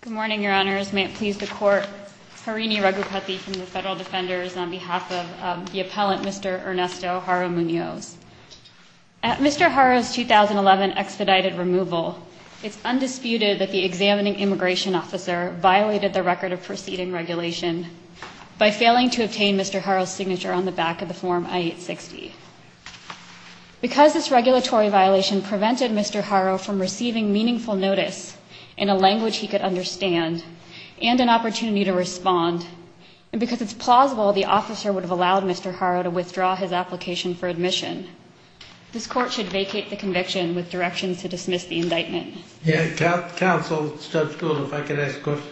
Good morning, Your Honors. May it please the Court, Harini Raghupathy from the Federal Defenders, on behalf of the appellant, Mr. Ernesto Haro-Munoz. At Mr. Haro's 2011 expedited removal, it's undisputed that the examining immigration officer violated the record of proceeding regulation by failing to obtain Mr. Haro's signature on the back of the Form I-860. Because this regulatory violation prevented Mr. Haro from receiving meaningful notice in a language he could understand and an opportunity to respond, and because it's plausible the officer would have allowed Mr. Haro to withdraw his application for admission, this Court should vacate the conviction with directions to dismiss the indictment. Counsel Judge Gould, if I could ask a question.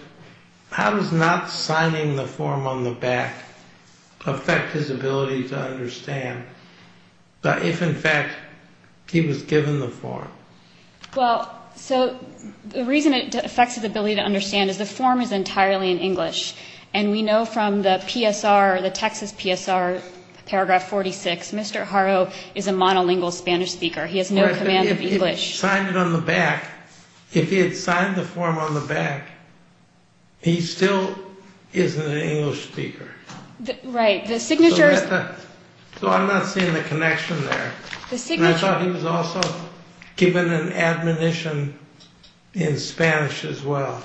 How does not signing the form on the back affect his ability to understand if, in fact, he was given the form? Well, so the reason it affects his ability to understand is the form is entirely in English. And we know from the PSR, the Texas PSR, paragraph 46, Mr. Haro is a monolingual Spanish speaker. He has no command of English. He signed it on the back. If he had signed the form on the back, he still isn't an English speaker. Right. The signature is... So I'm not seeing the connection there. The signature... And I thought he was also given an admonition in Spanish as well.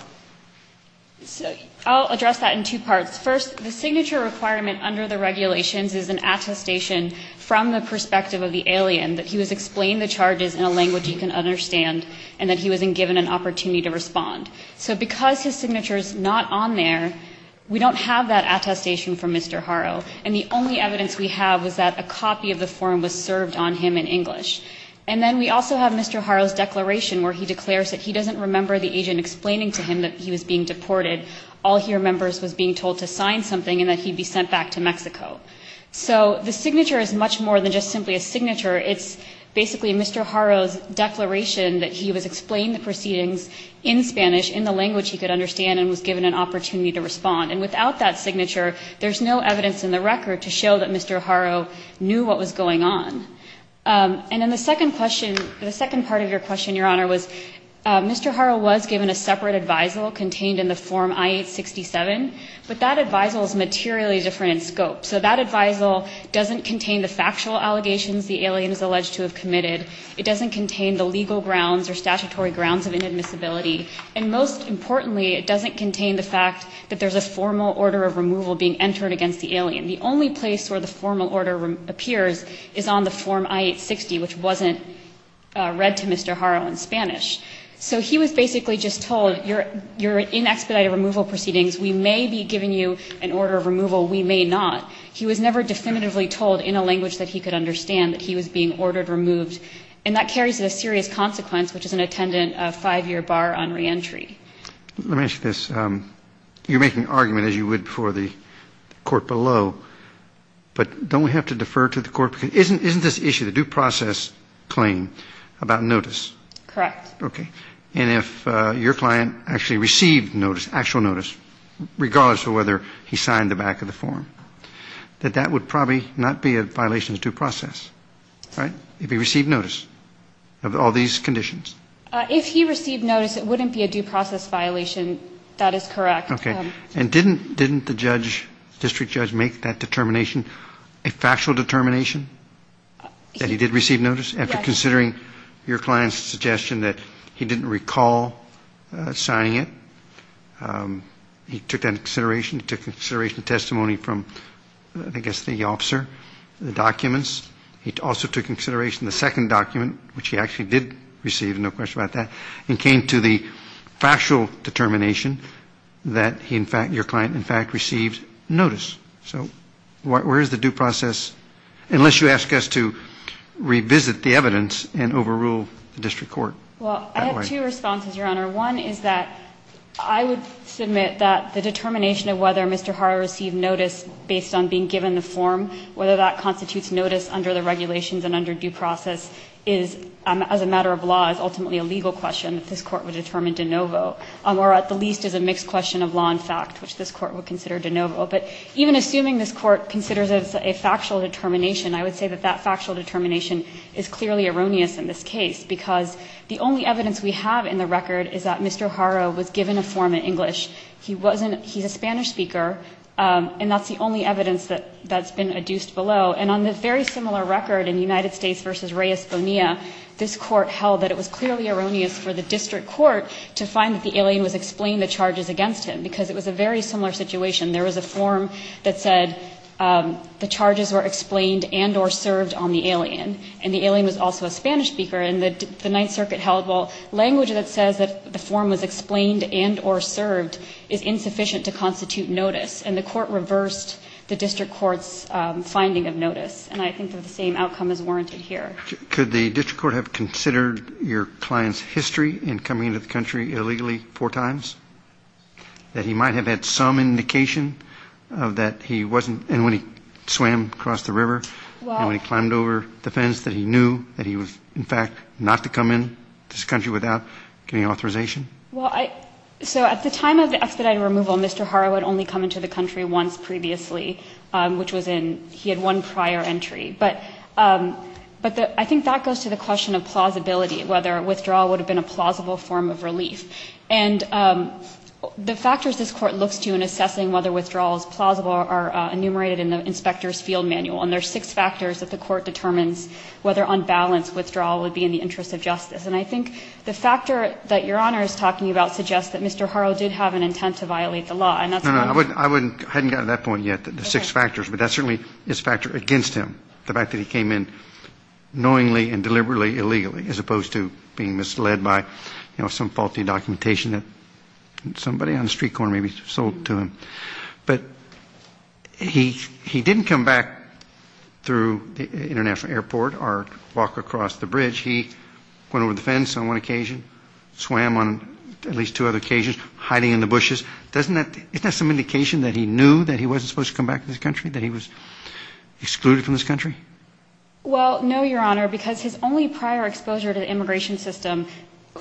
I'll address that in two parts. First, the signature requirement under the regulations is an attestation from the perspective of the alien that he was explained the charges in a language he can understand and that he was given an opportunity to respond. So because his signature is not on there, we don't have that attestation from Mr. Haro. And the only evidence we have is that a copy of the form was served on him in English. And then we also have Mr. Haro's declaration where he declares that he doesn't remember the agent explaining to him that he was being deported. All he remembers was being told to sign something and that he'd be sent back to Mexico. So the signature is much more than just simply a signature. It's basically Mr. Haro's declaration that he was explained the proceedings in Spanish, in the language he could understand, and was given an opportunity to respond. And without that signature, there's no evidence in the record to show that Mr. Haro knew what was going on. And then the second part of your question, Your Honor, was Mr. Haro was given a separate advisal contained in the Form I-867, but that advisal is materially different in scope. So that advisal doesn't contain the factual allegations the alien is alleged to have committed. It doesn't contain the legal grounds or statutory grounds of inadmissibility. And most importantly, it doesn't contain the fact that there's a formal order of removal being entered against the alien. The only place where the formal order appears is on the Form I-860, which wasn't read to Mr. Haro in Spanish. So he was basically just told, you're in expedited removal proceedings. We may be giving you an order of removal. We may not. He was never definitively told in a language that he could understand that he was being ordered removed. And that carries a serious consequence, which is an attendant, a 5-year bar on reentry. Roberts. Let me ask you this. You're making an argument, as you would before the Court below, but don't we have to defer to the Court? Isn't this issue the due process claim about notice? Yes. Okay. And if your client actually received notice, actual notice, regardless of whether he signed the back of the form, that that would probably not be a violation of due process, right, if he received notice of all these conditions? If he received notice, it wouldn't be a due process violation. That is correct. Okay. And didn't the judge, district judge, make that determination a factual determination that he did receive notice? Yes. Considering your client's suggestion that he didn't recall signing it, he took that into consideration. He took into consideration testimony from, I guess, the officer, the documents. He also took into consideration the second document, which he actually did receive, no question about that, and came to the factual determination that he, in fact, your client, in fact, received notice. So where is the due process, unless you ask us to revisit the evidence and overrule the district court? Well, I have two responses, Your Honor. One is that I would submit that the determination of whether Mr. Hara received notice based on being given the form, whether that constitutes notice under the regulations and under due process is, as a matter of law, is ultimately a legal question that this Court would determine de novo, or at the least is a mixed question of law and fact, which this Court would consider de novo. But even assuming this Court considers it a factual determination, I would say that that factual determination is clearly erroneous in this case, because the only evidence we have in the record is that Mr. Hara was given a form in English. He's a Spanish speaker, and that's the only evidence that's been adduced below. And on the very similar record in United States v. Reyes Bonilla, this Court held that it was clearly erroneous for the district court to find that the alien was explained the charges against him, because it was a very similar situation. There was a form that said the charges were explained and or served on the alien, and the alien was also a Spanish speaker. And the Ninth Circuit held, well, language that says that the form was explained and or served is insufficient to constitute notice, and the court reversed the district court's finding of notice. And I think that the same outcome is warranted here. Mr. Hara, did you know that Mr. Hara had been in this country illegally four times, that he might have had some indication that he wasn't, and when he swam across the river and when he climbed over the fence, that he knew that he was, in fact, not to come into this country without getting authorization? Well, I, so at the time of the expedited removal, Mr. Hara had only come into the country once previously, which was in, he had one prior entry. But I think that goes to the question of plausibility, whether withdrawal would have been a plausible form of relief. And the factors this Court looks to in assessing whether withdrawal is plausible are enumerated in the Inspector's Field Manual, and there are six factors that the Court determines whether on balance withdrawal would be in the interest of justice. And I think the factor that Your Honor is talking about suggests that Mr. Hara did have an intent to violate the law, and that's why I'm saying that. I haven't gotten to that point yet, the six factors, but that certainly is a factor against him, the fact that he came in knowingly and deliberately illegally, as opposed to being misled by, you know, some faulty documentation that somebody on the street corner maybe sold to him. But he didn't come back through the international airport or walk across the bridge. He went over the fence on one occasion, swam on at least two other occasions, hiding in the bushes. Doesn't that ñ isn't that some indication that he knew that he wasn't supposed to come back to this country, that he was excluded from this country? Well, no, Your Honor, because his only prior exposure to the immigration system ñ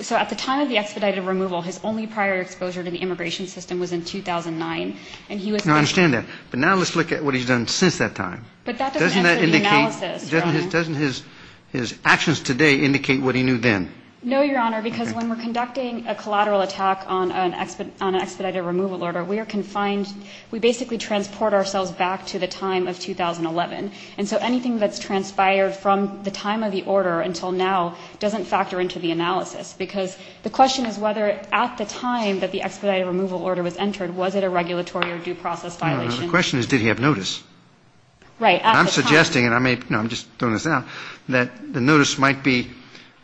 so at the time of the expedited removal, his only prior exposure to the immigration system was in 2009, and he was ñ No, I understand that. But now let's look at what he's done since that time. But that doesn't answer the analysis, Your Honor. Doesn't his actions today indicate what he knew then? No, Your Honor, because when we're conducting a collateral attack on an expedited removal order, we are confined ñ we basically transport ourselves back to the time of 2011. And so anything that's transpired from the time of the order until now doesn't factor into the analysis, because the question is whether at the time that the expedited removal order was entered, was it a regulatory or due process violation? No, no. The question is, did he have notice? Right. At the time ñ I'm suggesting, and I may ñ no, I'm just throwing this out, that the notice might be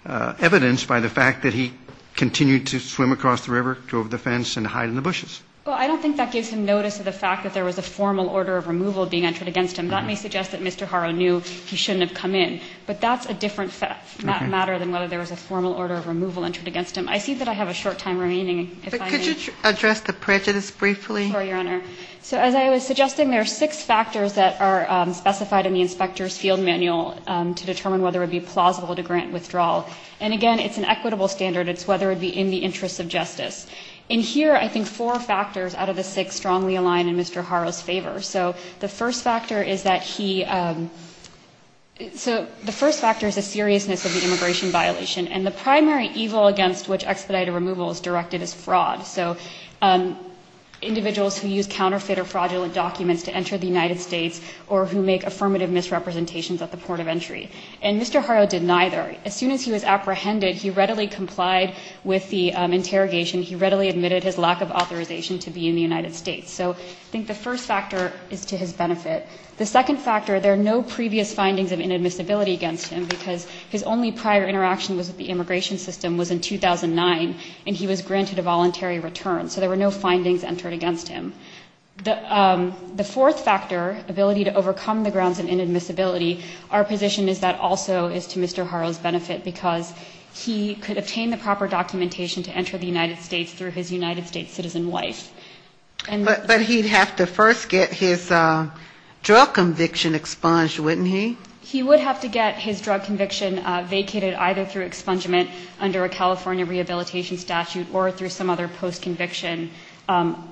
evidenced by the fact that he continued to swim across the river, drove the fence and hide in the bushes. Well, I don't think that gives him notice of the fact that there was a formal order of removal being entered against him. That may suggest that Mr. Haro knew he shouldn't have come in. But that's a different matter than whether there was a formal order of removal entered against him. I see that I have a short time remaining, if I may. But could you address the prejudice briefly? Sorry, Your Honor. So as I was suggesting, there are six factors that are specified in the inspector's field manual to determine whether it would be plausible to grant withdrawal. And again, it's an equitable standard. It's whether it would be in the interest of justice. In here, I think four factors out of the six strongly align in Mr. Haro's favor. So the first factor is that he ñ so the first factor is the seriousness of the immigration violation. And the primary evil against which expedited removal is directed is fraud. So individuals who use counterfeit or fraudulent documents to enter the United States or who make affirmative misrepresentations at the port of entry. And Mr. Haro did neither. As soon as he was apprehended, he readily complied with the interrogation he readily admitted his lack of authorization to be in the United States. So I think the first factor is to his benefit. The second factor, there are no previous findings of inadmissibility against him because his only prior interaction was with the immigration system was in 2009, and he was granted a voluntary return. So there were no findings entered against him. The fourth factor, ability to overcome the grounds of inadmissibility, our position is that also is to Mr. Haro's benefit because he could obtain the proper documentation to enter the United States through his United States citizen wife. And ñ But he'd have to first get his drug conviction expunged, wouldn't he? He would have to get his drug conviction vacated either through expungement under a California rehabilitation statute or through some other post-conviction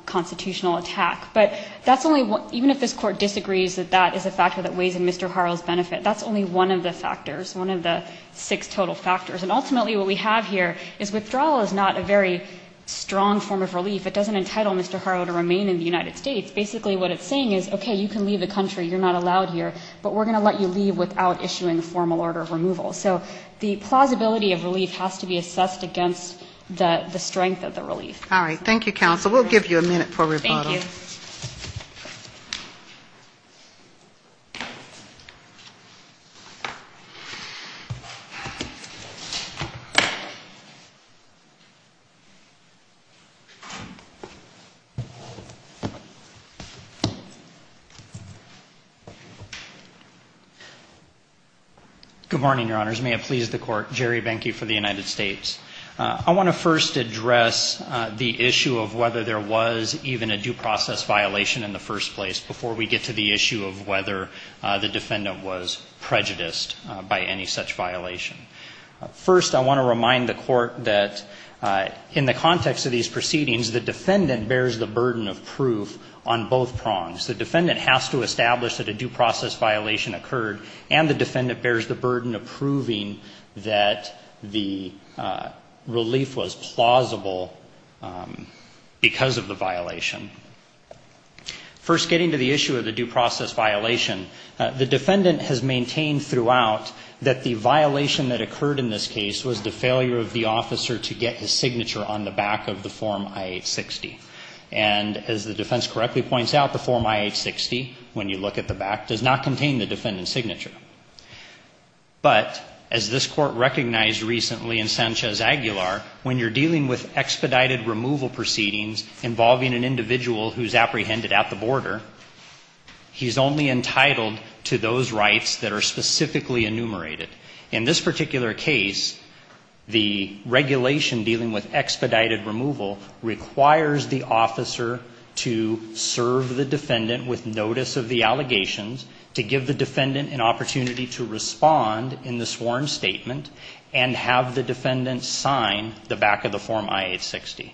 constitutional attack. But that's only ñ even if this Court disagrees that that is a factor that weighs in Mr. Haro's benefit, that's only one of the factors, one of the six total factors. And ultimately what we have here is withdrawal is not a very strong form of relief. It doesn't entitle Mr. Haro to remain in the United States. Basically what it's saying is, okay, you can leave the country, you're not allowed here, but we're going to let you leave without issuing a formal order of removal. So the plausibility of relief has to be assessed against the strength of the relief. All right. Thank you, counsel. We'll give you a minute for rebuttal. Thank you. Good morning, Your Honors. May it please the Court. Jerry Benke for the United States. I want to first address the issue of whether there was even a due process violation in the first place before we get to the issue of whether the defendant was prejudiced by any such violation. First, I want to remind the Court that in the context of these proceedings, the defendant bears the burden of proof on both prongs. The defendant has to establish that a due process violation occurred, and the defendant was plausible because of the violation. First, getting to the issue of the due process violation, the defendant has maintained throughout that the violation that occurred in this case was the failure of the officer to get his signature on the back of the Form I-860. And as the defense correctly points out, the Form I-860, when you look at the back, does not contain the defendant's signature. But as this Court recognized recently in Sanchez-Aguilar, when you're dealing with expedited removal proceedings involving an individual who's apprehended at the border, he's only entitled to those rights that are specifically enumerated. In this particular case, the regulation dealing with expedited removal requires the officer to serve the defendant with notice of the allegations, to give the defendant an opportunity to respond in the sworn statement, and have the defendant sign the back of the Form I-860.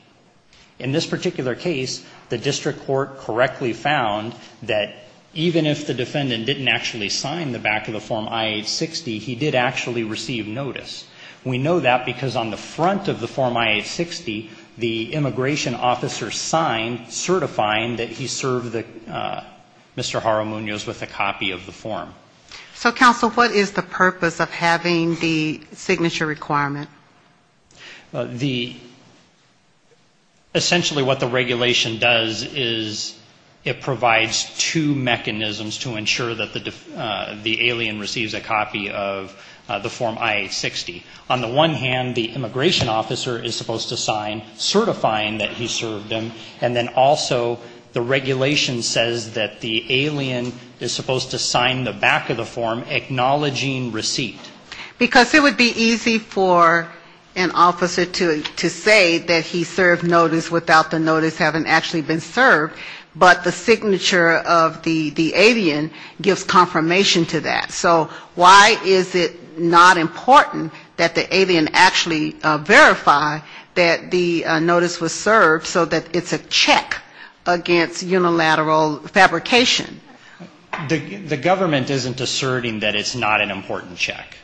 In this particular case, the district court correctly found that even if the defendant didn't actually sign the back of the Form I-860, he did actually receive notice. We know that because on the front of the Form I-860, the immigration officer signed, certifying that he served Mr. Jaramuñoz with a copy of the form. So, counsel, what is the purpose of having the signature requirement? The, essentially what the regulation does is it provides two mechanisms to ensure that the alien receives a copy of the Form I-860. On the one hand, the immigration officer is supposed to sign certifying that he served him, and then also the regulation says that the alien is supposed to sign the back of the form acknowledging receipt. Because it would be easy for an officer to say that he served notice without the notice having actually been served, but the signature of the alien gives confirmation to that. So why is it not important that the alien actually verify that the notice was served so that it's a check against unilateral fabrication? The government isn't asserting that it's not an important check.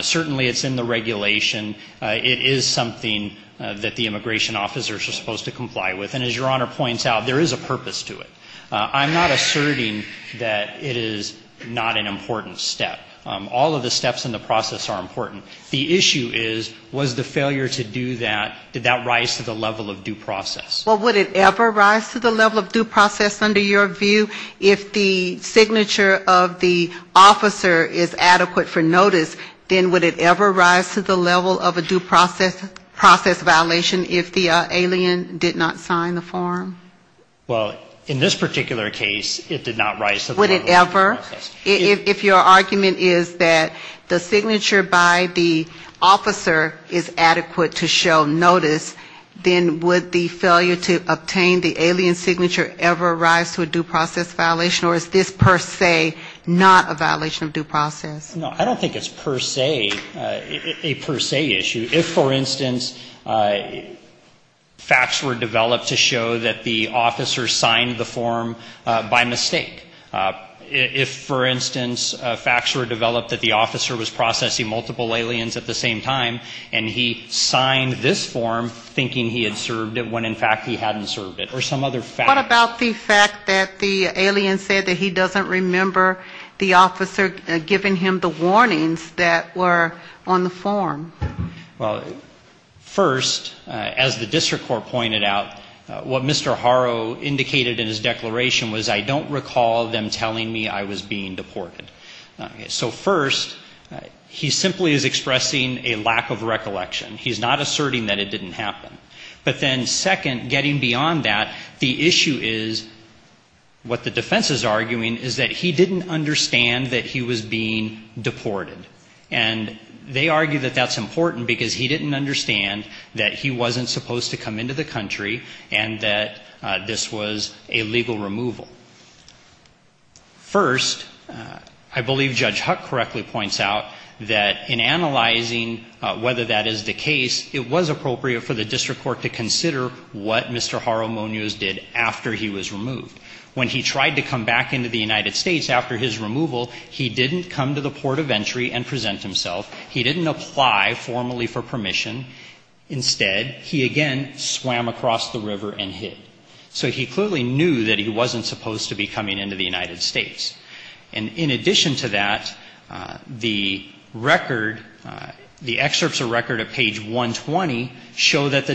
Certainly, it's in the regulation. It is something that the immigration officer is supposed to comply with, and as Your Honor points out, there is a purpose to it. I'm not asserting that it is not an important step. All of the steps in the process are important. The issue is, was the failure to do that, did that rise to the level of due process? Well, would it ever rise to the level of due process under your view? If the signature of the officer is adequate for notice, then would it ever rise to the level of a due process violation if the alien did not sign the form? Well, in this particular case, it did not rise to the level of due process. Would it ever? If your argument is that the signature by the officer is adequate to show notice, then would the failure to obtain the alien signature ever rise to a due process violation, or is this per se not a violation of due process? No, I don't think it's per se, a per se issue. If, for instance, facts were developed to show that the officer signed the form by mistake, if, for instance, facts were developed that the officer was processing multiple aliens at the same time, and he signed this form thinking he had served it, when in fact he hadn't served it, or some other fact. What about the fact that the alien said that he doesn't remember the officer giving him the warnings that were on the form? Well, first, as the district court pointed out, what Mr. Haro indicated in his declaration was I don't recall them telling me I was being deported. So first, he simply is expressing a lack of recollection. He's not asserting that it didn't happen. But then second, getting beyond that, the issue is what the defense is saying is I don't recall him being deported. And they argue that that's important because he didn't understand that he wasn't supposed to come into the country and that this was a legal removal. First, I believe Judge Huck correctly points out that in analyzing whether that is the case, it was appropriate for the district court to consider what Mr. Haro Munoz did after he was removed. When he tried to come back into the United States after his removal, he didn't come to the port of entry and present himself. He didn't apply formally for permission. Instead, he again swam across the river and hid. So he clearly knew that he wasn't supposed to be coming into the United States. And in addition to that, the record, the excerpts of record at page 120 show that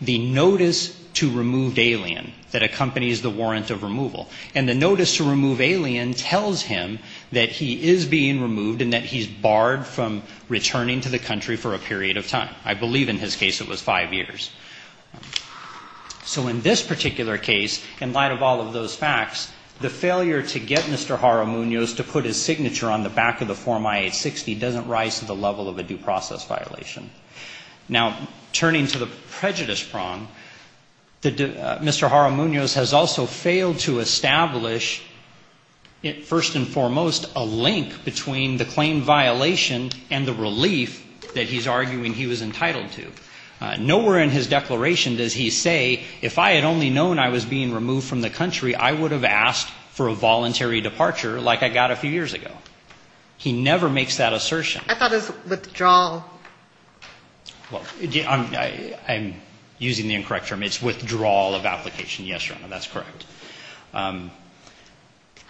the notice to remove alien that accompanies the warrant of removal. And the notice to remove alien tells him that he is being removed and that he's barred from returning to the country for a period of time. I believe in his case it was five years. So in this particular case, in light of all of those facts, the failure to get Mr. Haro Munoz to put his signature on the back of the form I-860 doesn't rise to the level of a due process violation. Now, turning to the prejudice prong, Mr. Haro Munoz has also failed to establish, first and foremost, a link between the claim violation and the relief that he's arguing he was entitled to. Nowhere in his declaration does he say, if I had only known I was being removed from the country, I would have asked for a voluntary withdrawal. Well, I'm using the incorrect term. It's withdrawal of application. Yes, Your Honor, that's correct.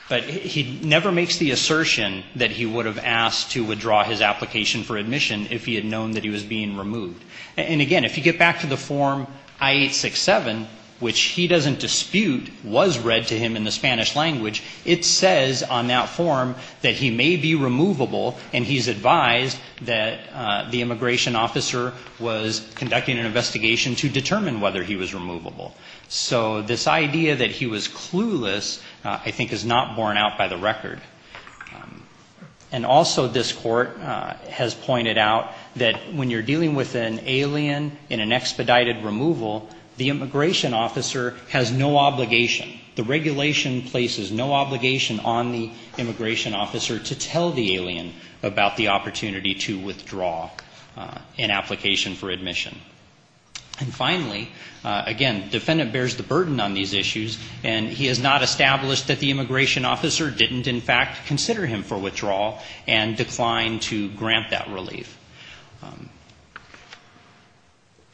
But he never makes the assertion that he would have asked to withdraw his application for admission if he had known that he was being removed. And again, if you get back to the form I-867, which he doesn't dispute was read to him in the Spanish language, it says on that form that he may be removable, and he's advised that the immigration officer was conducting an investigation to determine whether he was removable. So this idea that he was clueless, I think, is not borne out by the record. And also this Court has pointed out that when you're dealing with an alien in an expedited removal, the immigration officer has no obligation. The regulation places no obligation on the immigration officer to tell the alien about the opportunity to withdraw an application for admission. And finally, again, defendant bears the burden on these issues, and he has not established that the immigration officer didn't in fact consider him for withdrawal and declined to grant that relief.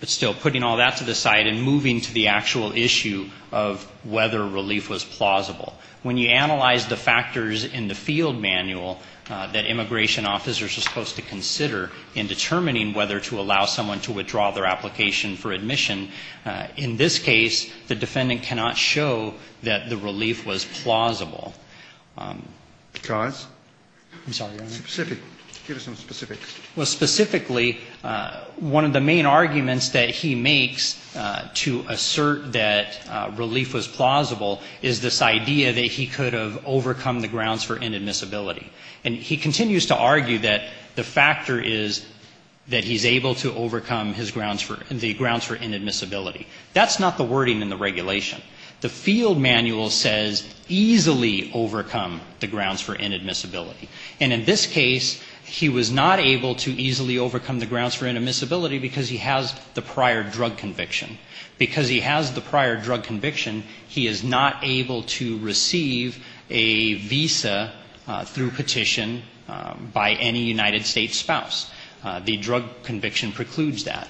But still, putting all that to the side and moving to the actual issue of whether relief was plausible. When you analyze the factors in the field manual that immigration officers are supposed to consider in determining whether to allow someone to withdraw their application for admission, in this case, the defendant cannot show that the relief was plausible. Because? I'm sorry, Your Honor. Specific. Give us some specifics. Well, specifically, one of the main arguments that he makes to assert that relief was plausible is this idea that he could have overcome the grounds for inadmissibility. And he continues to argue that the factor is that he's able to overcome his grounds for the grounds for inadmissibility. That's not the wording in the regulation. The field manual says easily overcome the grounds for inadmissibility. And in this case, he was not able to easily overcome the grounds for inadmissibility because he has the prior drug conviction. Because he has the prior drug conviction, he is not able to receive a visa through petition by any United States spouse. The drug conviction precludes that.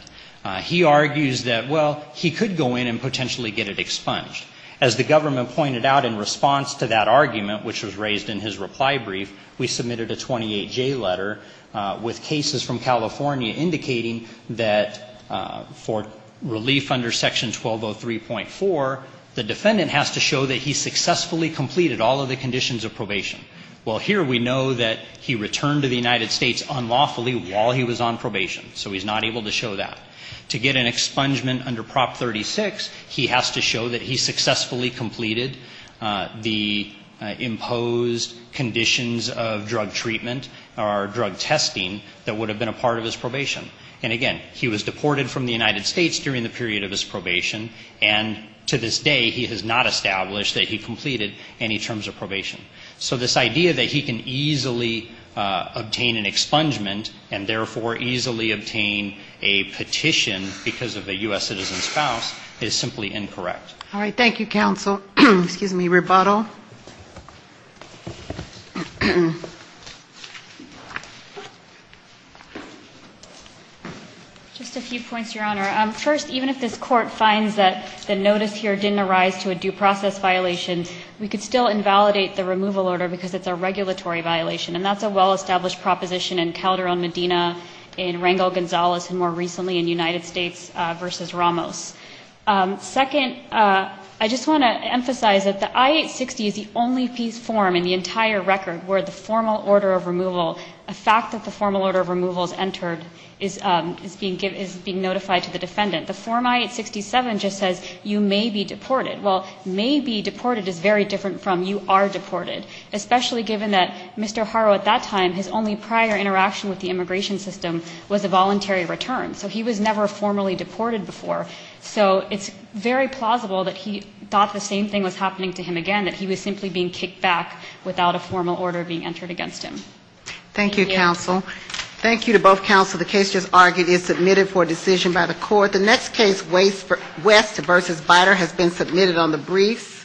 He argues that, well, he could go in and potentially get it expunged. As the government pointed out in response to that argument, which was raised in his reply brief, we submitted a 28J letter with cases from California indicating that for relief under Section 1203.4, the defendant has to show that he successfully completed all of the conditions of probation. Well, here we know that he returned to the United States unlawfully while he was on probation. So he's not able to show that. To get an expungement under Prop. 36, he has to show that he successfully completed the imposed conditions of drug treatment or drug testing that would have been a part of his probation. And again, he was deported from the United States during the period of his probation, and to this day he has not established that he completed any terms of probation. So this idea that he can easily obtain an expungement and therefore easily obtain an expungement under a petition because of a U.S. citizen's spouse is simply incorrect. All right. Thank you, counsel. Excuse me, rebuttal. Just a few points, Your Honor. First, even if this Court finds that the notice here didn't arise to a due process violation, we could still invalidate the removal order because it's a regulatory violation, and that's a well-established proposition in Calderon-Medina, in Rangel-Gonzalez, and more recently in United States v. Ramos. Second, I just want to emphasize that the I-860 is the only piece form in the entire record where the formal order of removal, a fact that the formal order of removal is entered, is being notified to the defendant. The Form I-867 just says you may be deported. Well, may be deported is very different from you are deported, especially given that Mr. Haro at that time, his only prior interaction with the immigration system was a voluntary return. So he was never formally deported before. So it's very plausible that he thought the same thing was happening to him again, that he was simply being kicked back without a formal order being entered against him. Thank you, counsel. Thank you to both counsel. The case just argued is submitted for decision by the court. The next case, West v. Biter, has been submitted on the briefs.